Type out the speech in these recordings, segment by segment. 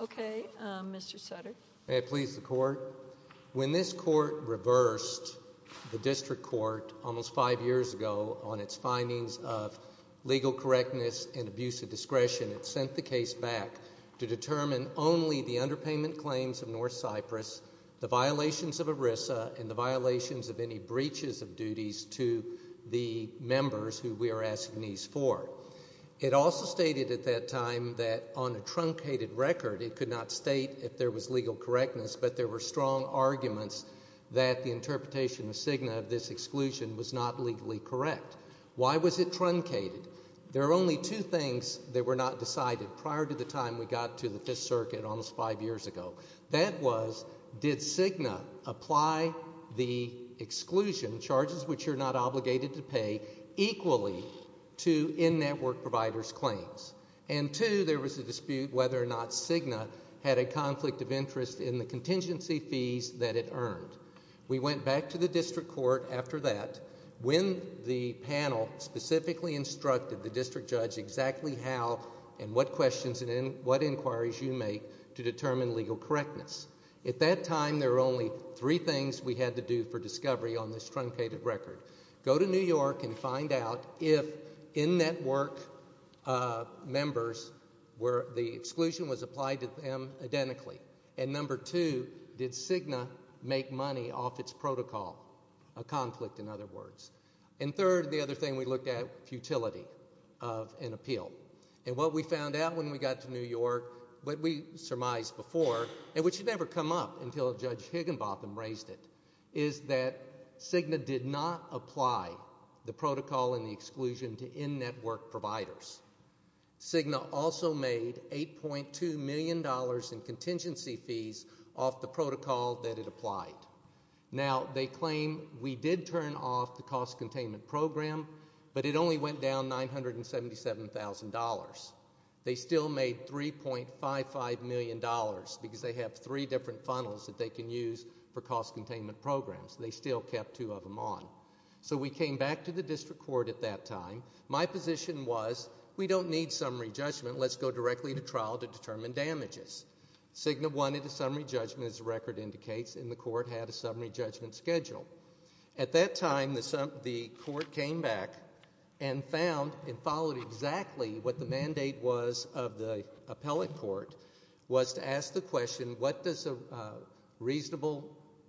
Okay, Mr. Sutter. May I please the court? When this court reversed the district court almost five years ago on its findings of legal correctness and abuse of discretion, it sent the case back to determine only the underpayment claims of North Cypress, the violations of ERISA, and the violations of any breaches of duties to the members who we are asking these for. It also stated at that time that on a truncated record, it could not state if there was legal correctness, but there were strong arguments that the interpretation of Cigna of this exclusion was not legally correct. Why was it truncated? There are only two things that were not decided prior to the time we got to the Fifth Circuit almost five years ago. That was, did Cigna apply the exclusion, charges which you're not obligated to pay, equally to in-network providers' claims? And two, there was a dispute whether or not Cigna had a conflict of interest in the contingency fees that it earned. We went back to the district court after that when the panel specifically instructed the district judge exactly how and what questions and what inquiries you make to determine legal correctness. At that time, there were only three things we had to do for discovery on this truncated record. Go to New York and find out if in-network members were, the exclusion was applied to them identically. And number two, did Cigna make money off its protocol, a conflict in other words. And third, the other thing we looked at, futility of an appeal. And what we found out when we got to New York, what we surmised before, and which had never come up until Judge Higginbotham raised it, is that Cigna did not apply the protocol and the exclusion to in-network providers. Cigna also made $8.2 million in contingency fees off the protocol that it applied. Now, they claim we did turn off the cost containment program, but it only went down $977,000. They still made $3.55 million because they have three different funnels that they can use for cost containment programs. They still kept two of them on. So we came back to the district court at that time. My position was, we don't need summary judgment. Let's go directly to trial to determine damages. Cigna wanted a summary judgment, as the record indicates, and the court had a summary judgment schedule. At that time, the court came back and found and followed exactly what the mandate was of the appellate court, was to ask the question, what does a reasonable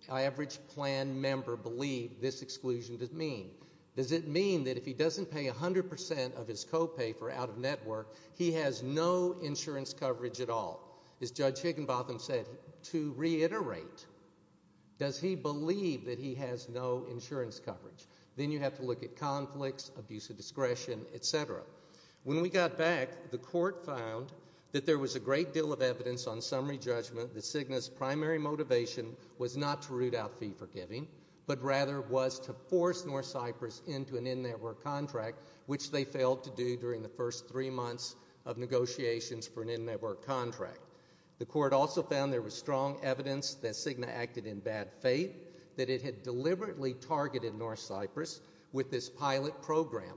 average plan member believe this exclusion does mean? Does it mean that if he doesn't pay 100% of his co-pay for out-of-network, he has no insurance coverage at all? As Judge Higginbotham said, to reiterate, does he believe that he has no insurance coverage? Then you have to look at conflicts, abuse of discretion, et cetera. When we got back, the court found that there was a great deal of evidence on summary judgment that Cigna's primary motivation was not to root out fee giving, but rather was to force North Cyprus into an in-network contract, which they failed to do during the first three months of negotiations for an in-network contract. The court also found there was strong evidence that Cigna acted in bad faith, that it had deliberately targeted North Cyprus with this pilot program.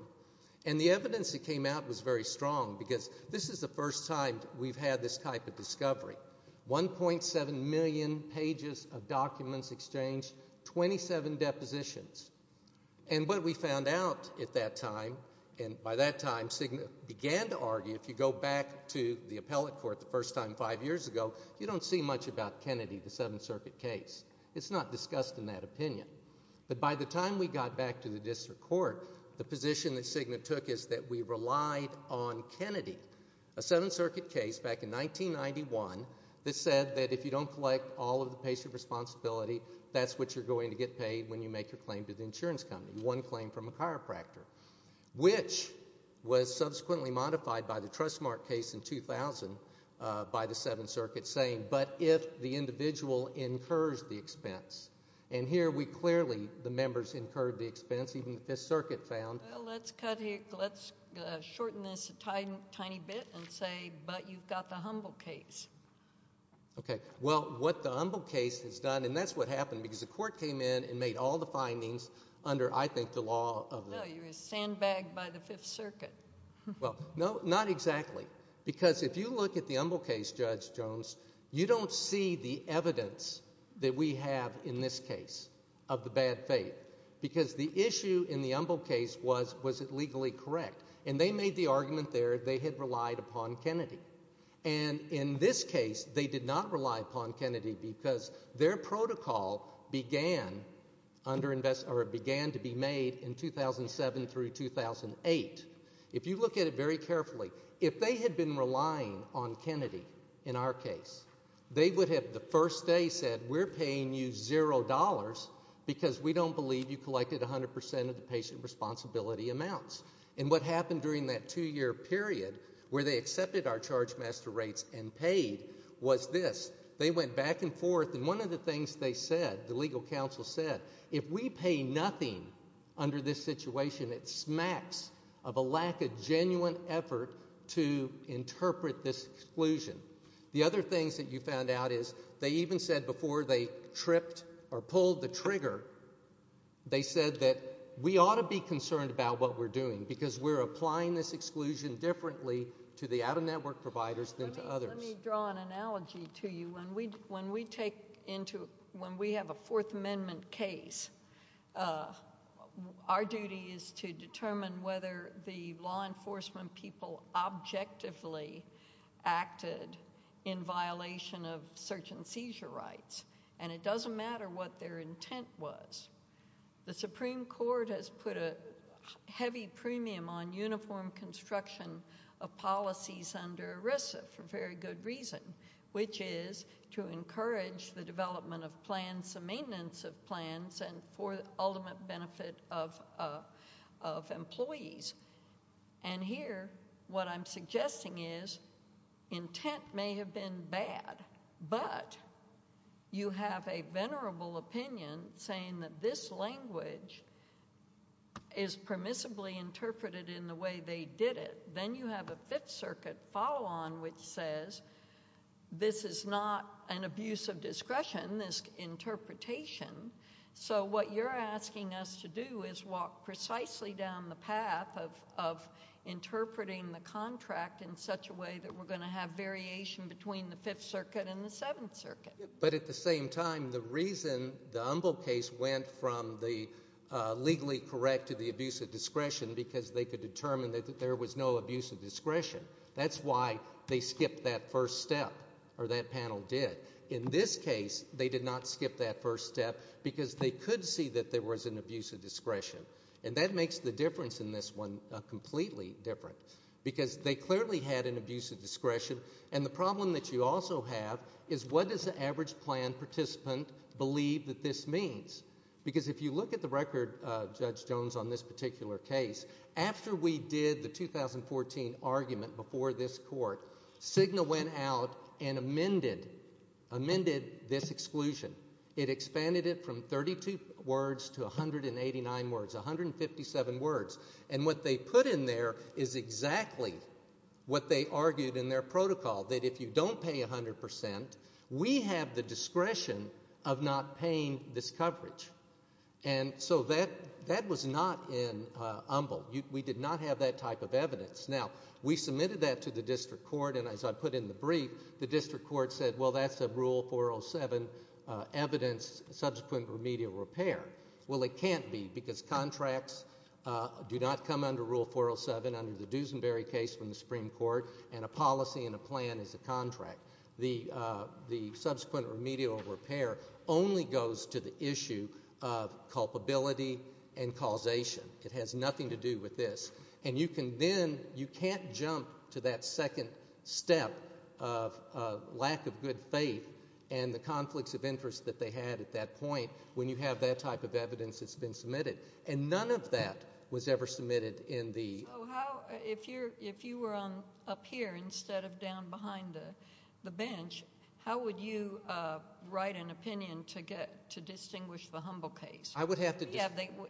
And the evidence that came out was very strong, because this is the first time we've had this type of discovery. 1.7 million pages of documents exchanged, 27 depositions. And what we found out at that time, and by that time Cigna began to argue if you go back to the appellate court the first time five years ago, you don't see much about Kennedy, the Seventh Circuit case. It's not discussed in that opinion. But by the time we got back to the district court, the position that Cigna took is that we relied on Kennedy, a Seventh Circuit case back in 1991 that said that if you don't collect all the patient responsibility, that's what you're going to get paid when you make your claim to the insurance company, one claim from a chiropractor, which was subsequently modified by the Trustmark case in 2000 by the Seventh Circuit saying, but if the individual incurs the expense. And here we clearly, the members incurred the expense, even the Fifth Circuit found. Well, let's cut here, let's shorten this a tiny bit and say, but you've got the Humble case. Okay. Well, what the Humble case has done, and that's what happened, because the court came in and made all the findings under, I think, the law of the- No, you were sandbagged by the Fifth Circuit. Well, no, not exactly. Because if you look at the Humble case, Judge Jones, you don't see the evidence that we have in this case of the bad faith. Because the issue in the Humble case was, was it legally correct? And they made the argument there they had relied upon Kennedy. And in this case, they did not rely upon Kennedy because their protocol began to be made in 2007 through 2008. If you look at it very carefully, if they had been relying on Kennedy in our case, they would have the first day said, we're paying you zero dollars because we don't believe you collected 100% of the patient responsibility amounts. And what happened during that two-year period where they accepted our charge master rates and paid was this. They went back and forth. And one of the things they said, the legal counsel said, if we pay nothing under this situation, it smacks of a lack of genuine effort to interpret this exclusion. The other things that you found out is they even said before they tripped or pulled the trigger, they said that we ought to be concerned about what we're doing because we're applying this exclusion differently to the out-of-network providers than to others. Let me, let me draw an analogy to you. When we, when we take into, when we have a Fourth Amendment case, our duty is to determine whether the law enforcement people objectively acted in violation of search and seizure rights. And it doesn't matter what their intent was. The Supreme Court has put a heavy premium on uniform construction of policies under ERISA for very good reason, which is to encourage the development of plans, the maintenance of plans, and for the ultimate benefit of, of employees. And here, what I'm suggesting is intent may have been bad, but you have a venerable opinion saying that this language is permissibly interpreted in the way they did it. Then you have a Fifth Circuit follow-on which says this is not an abuse of discretion, this interpretation. So what you're asking us to do is walk precisely down the path of, of interpreting the contract in such a way that we're going to have variation between the Fifth Circuit and the Seventh Circuit. But at the same time, the reason the Umbel case went from the legally correct to the abuse of discretion because they could determine that there was no abuse of discretion. That's why they skipped that first step, or that panel did. In this case, they did not skip that first step because they could see that there was an abuse of discretion. And that makes the difference in this one completely different. Because they clearly had an abuse of discretion, and the problem that you also have is what does the average plan participant believe that this means? Because if you look at the record, Judge Jones, on this particular case, after we did the 2014 argument before this court, Cigna went out and amended, amended this exclusion. It expanded it from 32 words to 189 words, 157 words. And what they put in there is exactly what they argued in their protocol, that if you don't pay 100 percent, we have the discretion of not paying this coverage. And so that, that was not in Umbel. We did not have that type of evidence. Now, we submitted that to the district court and as I put in the brief, the district court said, well, that's a Rule 407 evidence, subsequent remedial repair. Well, it can't be because contracts do not come under Rule 407 under the Duesenberry case from the Supreme Court, and a policy and a plan is a contract. The subsequent remedial repair only goes to the issue of culpability and causation. It has not jumped to that second step of lack of good faith and the conflicts of interest that they had at that point when you have that type of evidence that's been submitted. And none of that was ever submitted in the... So how, if you're, if you were on, up here instead of down behind the, the bench, how would you write an opinion to get, to distinguish the Humbel case? I would have to...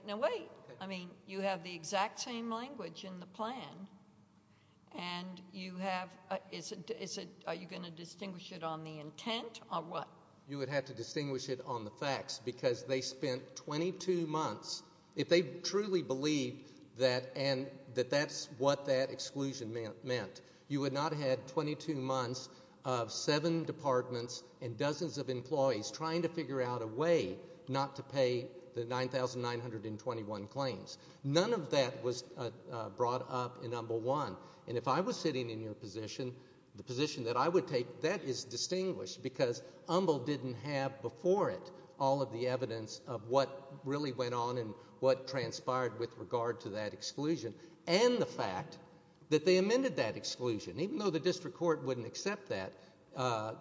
No, wait. I mean, you have the exact same language in the plan, and you have, is it, is it, are you going to distinguish it on the intent, or what? You would have to distinguish it on the facts, because they spent 22 months, if they truly believed that, and, that that's what that exclusion meant, you would not have had 22 months of seven departments and dozens of employees trying to figure out a way not to make 2921 claims. None of that was brought up in Humbel 1. And if I was sitting in your position, the position that I would take, that is distinguished, because Humbel didn't have before it all of the evidence of what really went on and what transpired with regard to that exclusion, and the fact that they amended that exclusion. Even though the district court wouldn't accept that,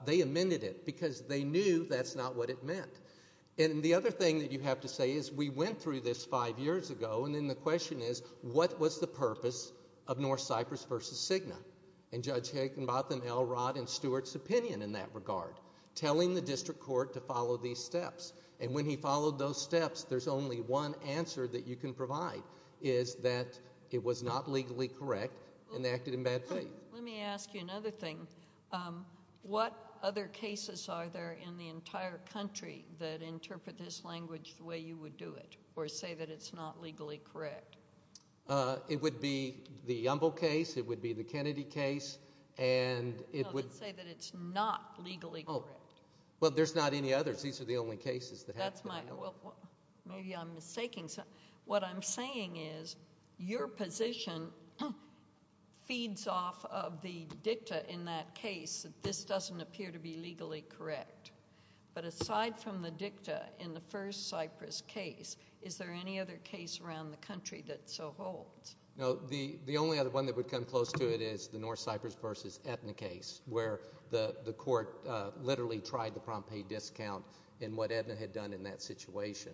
they amended it, because they knew that's not what it meant. And the other thing that you have to say is, we went through this five years ago, and then the question is, what was the purpose of North Cyprus versus Cigna? And Judge Higginbotham, L. Rod, and Stewart's opinion in that regard, telling the district court to follow these steps. And when he followed those steps, there's only one answer that you can provide, is that it was not legally correct, and they acted in bad faith. Let me ask you another thing. What other cases are there in the entire country that interpret this language the way you would do it, or say that it's not legally correct? It would be the Humbel case, it would be the Kennedy case, and it would No, let's say that it's not legally correct. Well, there's not any others. These are the only cases that have to be Well, maybe I'm mistaking something. What I'm saying is, your position feeds off of the dicta in that case, that this doesn't appear to be legally correct. But aside from the dicta in the first Cyprus case, is there any other case around the country that so holds? No, the only other one that would come close to it is the North Cyprus versus Aetna case, where the court literally tried to prompt a discount in what Aetna had done in that situation.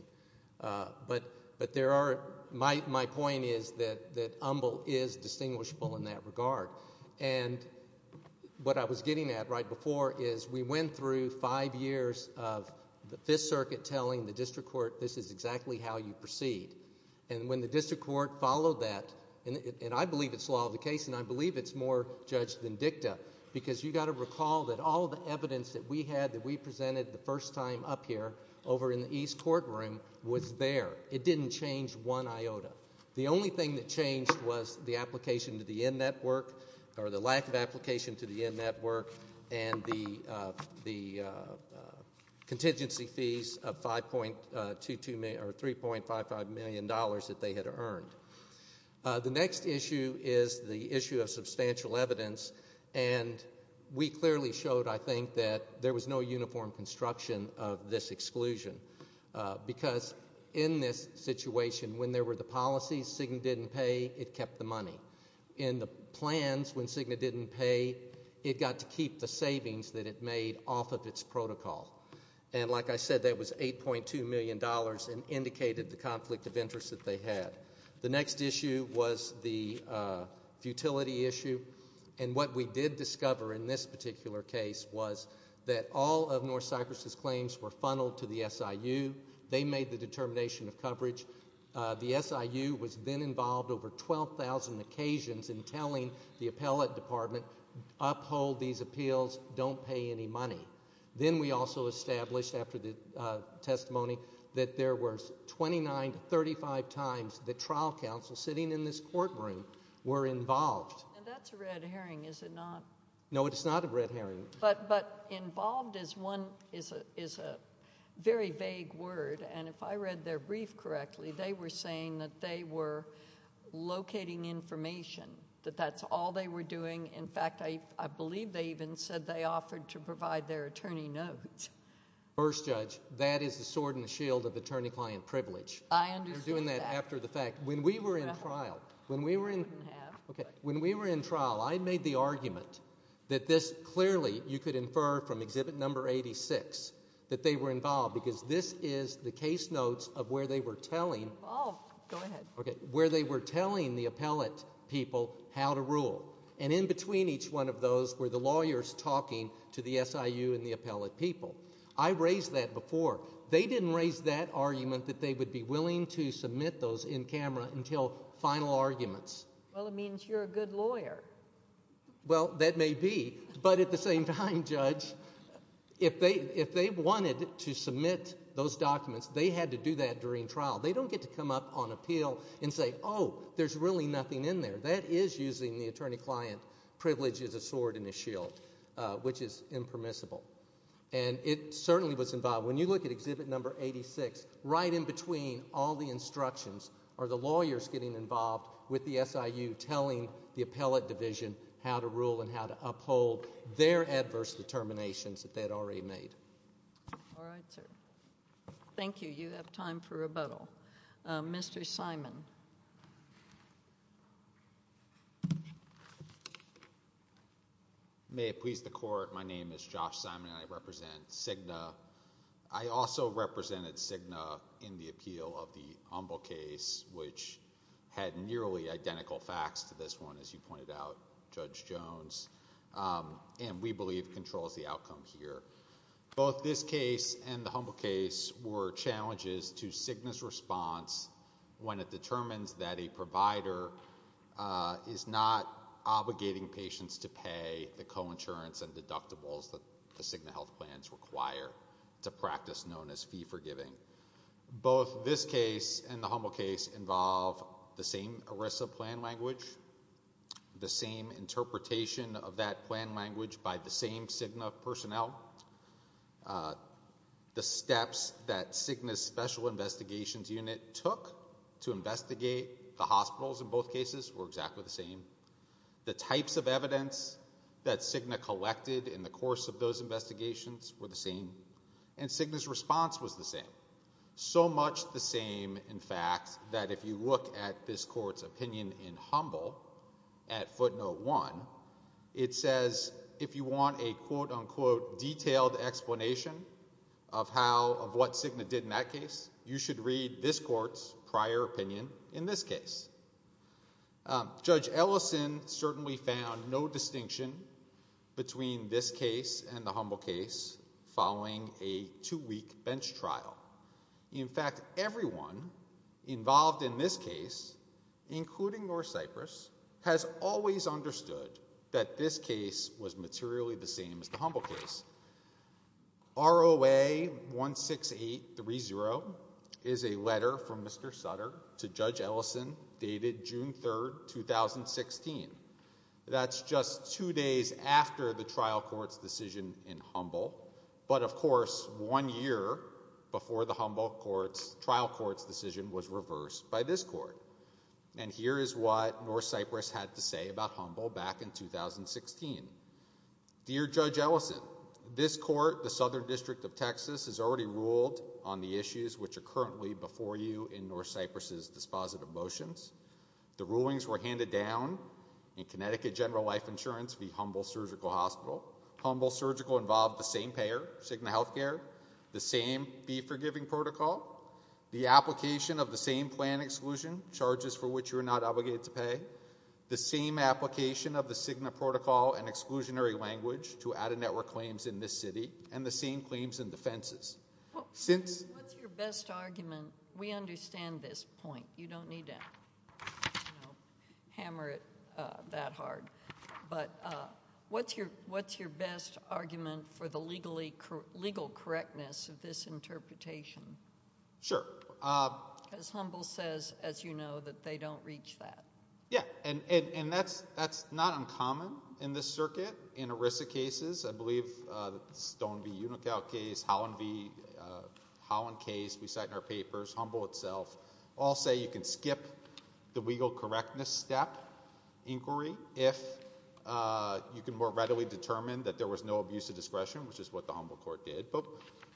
But there are, my point is that Humbel is distinguishable in that regard. And what I was getting at right before is, we went through five years of the Fifth Circuit telling the district court, this is exactly how you proceed. And when the district court followed that, and I believe it's law of the case, and I believe it's more judged than it is, you've got to recall that all the evidence that we had that we presented the first time up here, over in the East courtroom, was there. It didn't change one iota. The only thing that changed was the application to the Yen Network, or the lack of application to the Yen Network, and the contingency fees of $3.55 million that they had earned. The next issue is the issue of substantial evidence, and we clearly showed, I think, that there was no uniform construction of this exclusion. Because in this situation, when there were the policies, Cigna didn't pay, it kept the money. In the plans, when Cigna didn't pay, it got to keep the savings that it made off of its protocol. And like I said, that was $8.2 million and indicated the conflict of interest that they had. The next issue was the futility issue, and what we did discover in this particular case was that all of North Cyprus's claims were funneled to the SIU. They made the determination of coverage. The SIU was then involved over 12,000 occasions in telling the appellate department, uphold these appeals, don't pay any money. Then we also established, after the testimony, that there were 29 to 35 times that trial counsels sitting in this courtroom were involved. And that's a red herring, is it not? No, it's not a red herring. But involved is a very vague word, and if I read their brief correctly, they were saying that they were locating information, that that's all they were doing. In fact, I believe they even said they offered to provide their attorney notes. First Judge, that is the sword and shield of attorney-client privilege. I understand that. You're doing that after the fact. When we were in trial, when we were in trial, I made the argument that this clearly, you could infer from Exhibit No. 86, that they were involved because this is the case notes of where they were telling the appellate people how to rule. And in between each one of those were the lawyers talking to the SIU and the SIU. I raised that before. They didn't raise that argument that they would be willing to submit those in camera until final arguments. Well, it means you're a good lawyer. Well, that may be, but at the same time, Judge, if they wanted to submit those documents, they had to do that during trial. They don't get to come up on appeal and say, oh, there's really nothing in there. That is using the attorney-client privilege as a sword and a It certainly was involved. When you look at Exhibit No. 86, right in between all the instructions are the lawyers getting involved with the SIU telling the appellate division how to rule and how to uphold their adverse determinations that they had already made. All right, sir. Thank you. You have time for rebuttal. Mr. Simon. May it please the court, my name is Josh Simon and I represent Cigna. I also represented Cigna in the appeal of the Humble case, which had nearly identical facts to this one, as you pointed out, Judge Jones, and we believe controls the outcome here. Both this case and the Humble case were challenges to Cigna's response when it determines that a provider is not obligating patients to pay the co-insurance and deductibles that the Cigna health plans require to practice known as fee-forgiving. Both this case and the Humble case involve the same ERISA plan language, the same interpretation of that plan language by the same Cigna personnel, the steps that Cigna's special investigations unit took to investigate the hospitals in both cases were exactly the same, the types of evidence that Cigna collected in the course of those investigations were the same, and Cigna's response was the same. So much the same, in fact, that if you look at this court's opinion in Humble at footnote one, it says if you want a quote-unquote detailed explanation of what Cigna did in that case, you should read this court's prior opinion in this case. Judge Ellison certainly found no distinction between this case and the Humble case following a two-week bench trial. In fact, everyone involved in this case, including North Cyprus, has always understood that this case was materially the same as the Humble case. ROA 16830 is a letter from Mr. Sutter to Judge Ellison dated June 3, 2016. That's just two days after the trial court's decision in Humble, but of course, one year before the Humble trial court's decision was reversed by this court. And here is what North Cyprus had to say about Humble back in 2016. Dear Judge Ellison, this court, the Southern District of Texas, has already ruled on the issues which are currently before you in North Cyprus's dispositive motions. The rulings were handed down in Connecticut General Life Insurance v. Humble Surgical Hospital. Humble Surgical involved the same payer, Cigna Healthcare, the same fee-forgiving protocol, the application of the same plan exclusion, charges for which you are not obligated to pay, the same application of the Cigna protocol and exclusionary language to add a network claims in this city, and the same claims and defenses. What's your best argument? We understand this point. You don't need to hammer it that hard, but what's your best argument for the legal correctness of this interpretation? Sure. Because Humble says, as you know, that they don't reach that. Yeah, and that's not uncommon in this circuit. In ERISA cases, I believe Stone v. Unikow case, Howland v. Howland case we cite in our papers, Humble itself, all say you can skip the legal correctness step inquiry if you can more readily determine that there was no abuse of discretion, which is what the Humble court did. But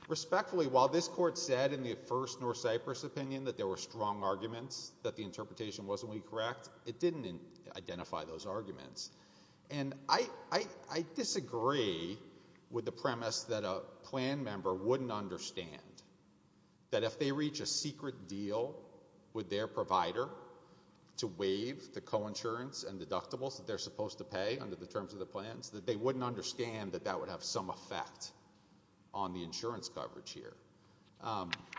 respectfully, while this court said in the first North Cyprus opinion that there were strong arguments that the interpretation wasn't really correct, it didn't identify those arguments. And I disagree with the premise that a plan member wouldn't understand that if they reach a secret deal with their provider to waive the coinsurance and deductibles that they're supposed to pay under the terms of the plans, that they wouldn't understand that that would have some effect on the insurance coverage here.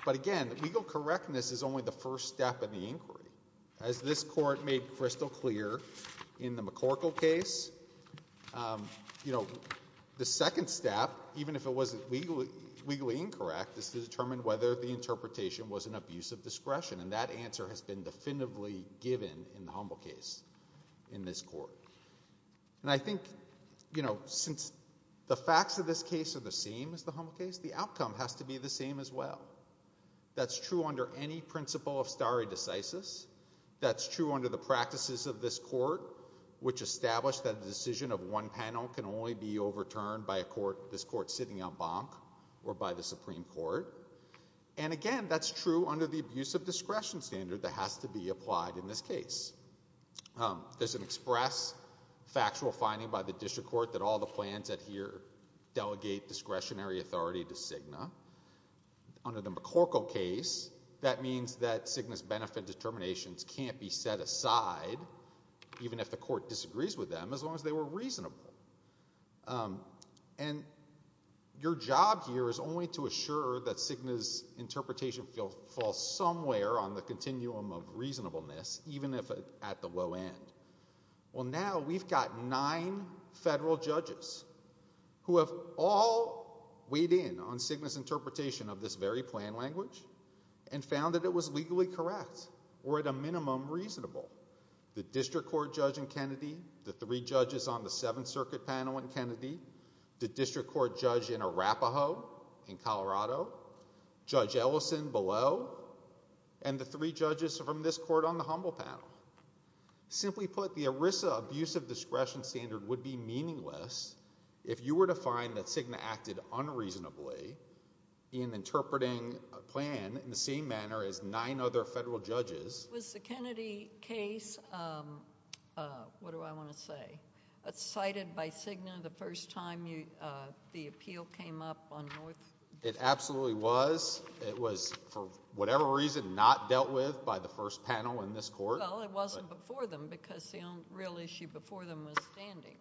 But again, legal correctness is only the first step in the inquiry. As this court made crystal clear in the McCorkle case, you know, the second step, even if it wasn't legally incorrect, is to determine whether the interpretation was an abuse of discretion that was objectively given in the Humble case in this court. And I think, you know, since the facts of this case are the same as the Humble case, the outcome has to be the same as well. That's true under any principle of stare decisis. That's true under the practices of this court, which established that a decision of one panel can only be overturned by a court, this court sitting en banc, or by the Supreme Court. And again, that's true under the abuse of discretion standard that has to be applied in this case. There's an express factual finding by the district court that all the plans that here delegate discretionary authority to Cigna. Under the McCorkle case, that means that Cigna's benefit determinations can't be set aside, even if the court disagrees with them, as long as they were reasonable. And your job here is only to assure that Cigna's interpretation falls somewhere on the continuum of reasonableness, even if at the low end. Well, now we've got nine federal judges who have all weighed in on Cigna's interpretation of this very plan language and found that it was legally correct, or at a minimum, reasonable. The district court judge in Kennedy, the three judges on the circuit panel in Kennedy, the district court judge in Arapahoe, in Colorado, Judge Ellison below, and the three judges from this court on the humble panel. Simply put, the ERISA abuse of discretion standard would be meaningless if you were to find that Cigna acted unreasonably in interpreting a plan in the same manner as nine other federal judges. Was the Kennedy case, what do I want to say, cited by Cigna the first time the appeal came up on North? It absolutely was. It was, for whatever reason, not dealt with by the first panel in this court. Well, it wasn't before them because the only real issue before them was standing.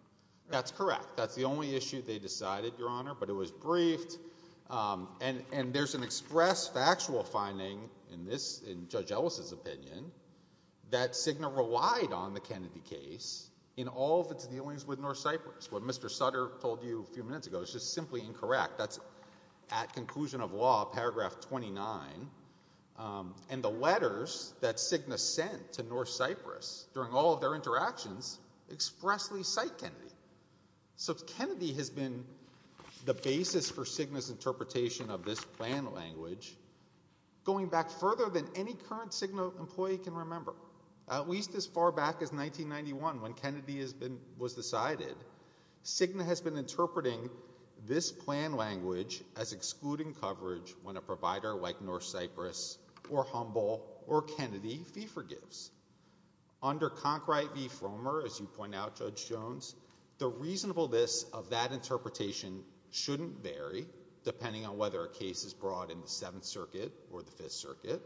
That's correct. That's the only issue they decided, Your Honor, but it was briefed. And there's an express factual finding in Judge Ellison's opinion that Cigna relied on the Kennedy case in all of its dealings with North Cyprus. What Mr. Sutter told you a few minutes ago is just simply incorrect. That's at conclusion of law, paragraph 29. And the letters that Cigna sent to North Cyprus during all of their interactions expressly cite Kennedy. So Kennedy has been the basis for Cigna's interpretation of this plan language going back further than any current Cigna employee can remember. At least as far back as 1991, when Kennedy was decided, Cigna has been interpreting this plan language as excluding coverage when a provider like North Cyprus or Humble or Kennedy fee forgives. Under Concrite v. Jones, the reasonableness of that interpretation shouldn't vary depending on whether a case is brought in the Seventh Circuit or the Fifth Circuit.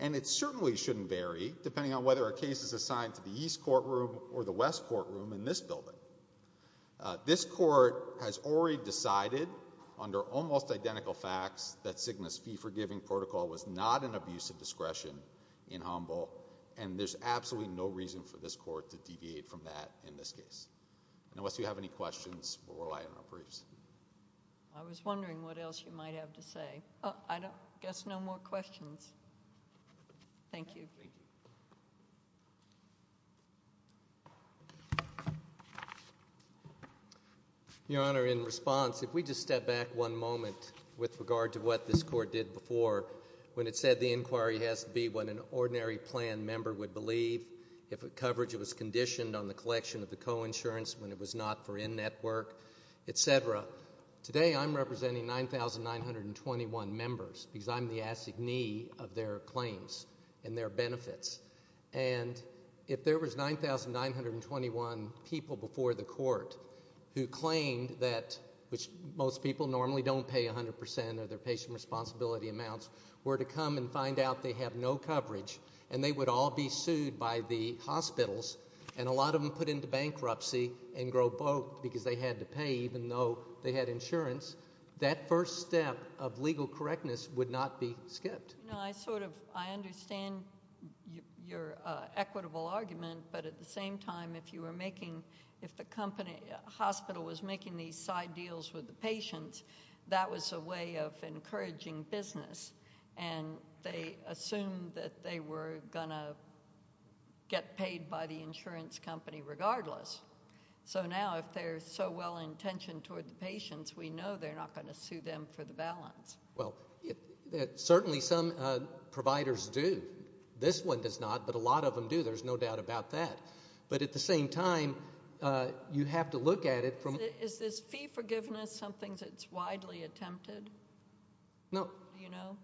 And it certainly shouldn't vary depending on whether a case is assigned to the East courtroom or the West courtroom in this building. This court has already decided under almost identical facts that Cigna's fee forgiving protocol was not an abuse of discretion in Humble. And there's absolutely no reason for this court to deviate from that in this case. Unless you have any questions, we'll rely on our briefs. I was wondering what else you might have to say. I guess no more questions. Thank you. Your Honor, in response, if we just step back one moment with regard to what this court did before when it said the inquiry has to be when an ordinary plan member would believe if a coverage was conditioned on the collection of the coinsurance when it was not for in-network, etc., today I'm representing 9,921 members because I'm the assignee of their claims and their benefits. And if there was 9,921 people before the court who claimed that, which most people normally don't pay 100% of their patient responsibility amounts, were to come and find out they have no coverage and they would all be sued by the hospitals, and a lot of them put into bankruptcy and go broke because they had to pay even though they had insurance, that first step of legal correctness would not be skipped. You know, I sort of, I understand your equitable argument, but at the same time if you were making, if the company, hospital was making these side deals with the patients, that was a way of encouraging business and they assumed that they were going to get paid by the insurance company regardless. So now if they're so well-intentioned toward the patients, we know they're not going to sue them for the balance. Well, certainly some providers do. This one does not, but a lot of them do, there's no doubt about that. But at the same time, you have to look at it from... Is this fee forgiveness something that's widely attempted? No. Do you know?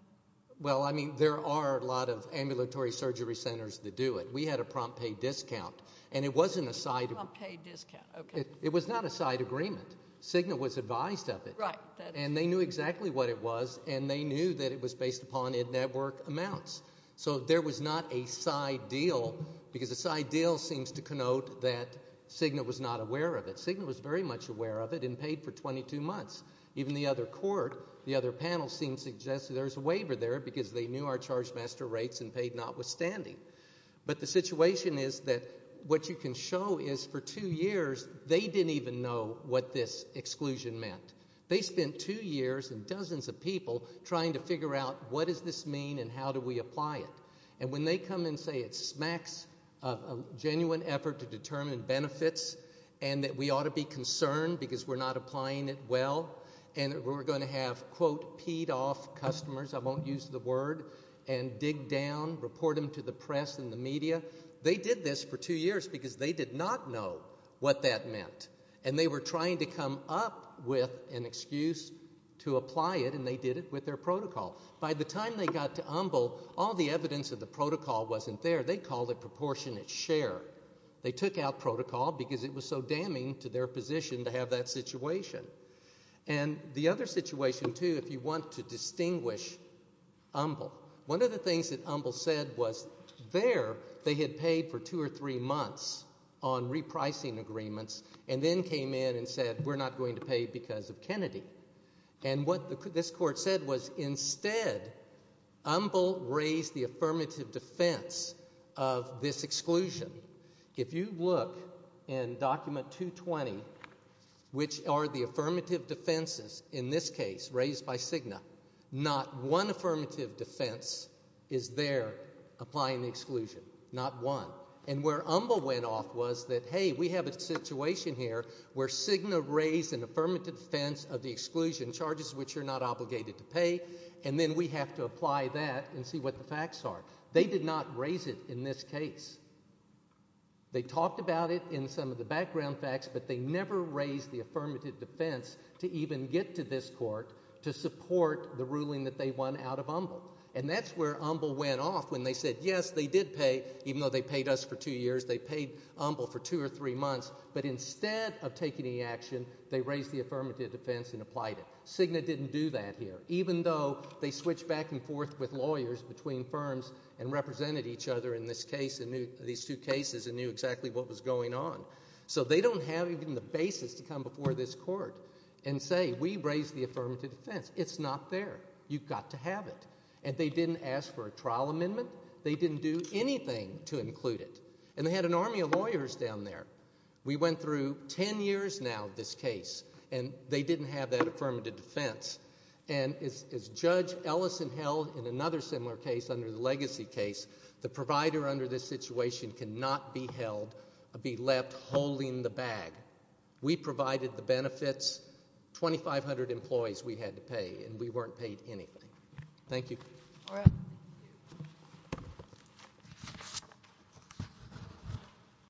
Well, I mean, there are a lot of ambulatory surgery centers that do it. We had a prompt pay discount and it wasn't a side... Prompt pay discount, okay. It was not a side agreement. Cigna was advised of it. Right. And they knew exactly what it was and they knew that it was based upon in-network amounts. So there was not a side deal because a side deal seems to connote that Cigna was not aware of it. Cigna was very much aware of it and paid for 22 months. Even the other court, the other panel seems to suggest that there's a waiver there because they knew our charge master rates and paid notwithstanding. But the situation is that what you can show is for two years, they didn't even know what this exclusion meant. They spent two years and dozens of people trying to figure out what does this mean and how do we apply it. And when they come and say it smacks of a genuine effort to determine benefits and that we ought to be concerned because we're not applying it well and we're going to have quote peed off customers, I won't use the word, and dig down, report them to the press and the media. They did this for two years because they did not know what that meant. And they were trying to come up with an excuse to apply it and they did it with their protocol. By the time they got to Umbl, all the evidence of the protocol wasn't there. They called it proportionate share. They took out protocol because it was so damning to their position to have that situation. And the other situation, too, if you want to distinguish Umbl, one of the things that Umbl said was there they had paid for two or three months on repricing agreements and then came in and said we're not going to pay because of Kennedy. And what this court said was instead Umbl raised the affirmative defense of this exclusion. If you look in document 220, which are the affirmative defenses in this case raised by Cigna, not one affirmative defense is there applying the exclusion. Not one. And where Umbl went off was that, hey, we have a situation here where Cigna raised an affirmative defense of the exclusion, charges which you're not obligated to pay, and then we have to apply that and see what the facts are. They did not raise it in this case. They talked about it in some of the background facts, but they never raised the affirmative defense to even get to this court to support the ruling that they won out of Umbl. And that's where Umbl went off when they said, yes, they did pay, even though they paid us for two years, they paid Umbl for two or three months. But instead of taking any action, they raised the affirmative defense and applied it. Cigna didn't do that here. Even though they switched back and forth with lawyers between firms and represented each other in this case, in these two cases, and knew exactly what was going on. So they don't have even the basis to come before this court and say, we raised the affirmative defense. It's not fair. You've got to have it. And they didn't ask for a trial amendment. They didn't do anything to include it. And they had an army of lawyers down there. We went through 10 years now of this case, and they didn't have that affirmative defense. And as Judge Ellison held in another similar case under the Legacy case, the provider under this situation cannot be held, be left holding the bag. We provided the benefits. 2,500 employees we had to pay, and we weren't paid anything. Thank you.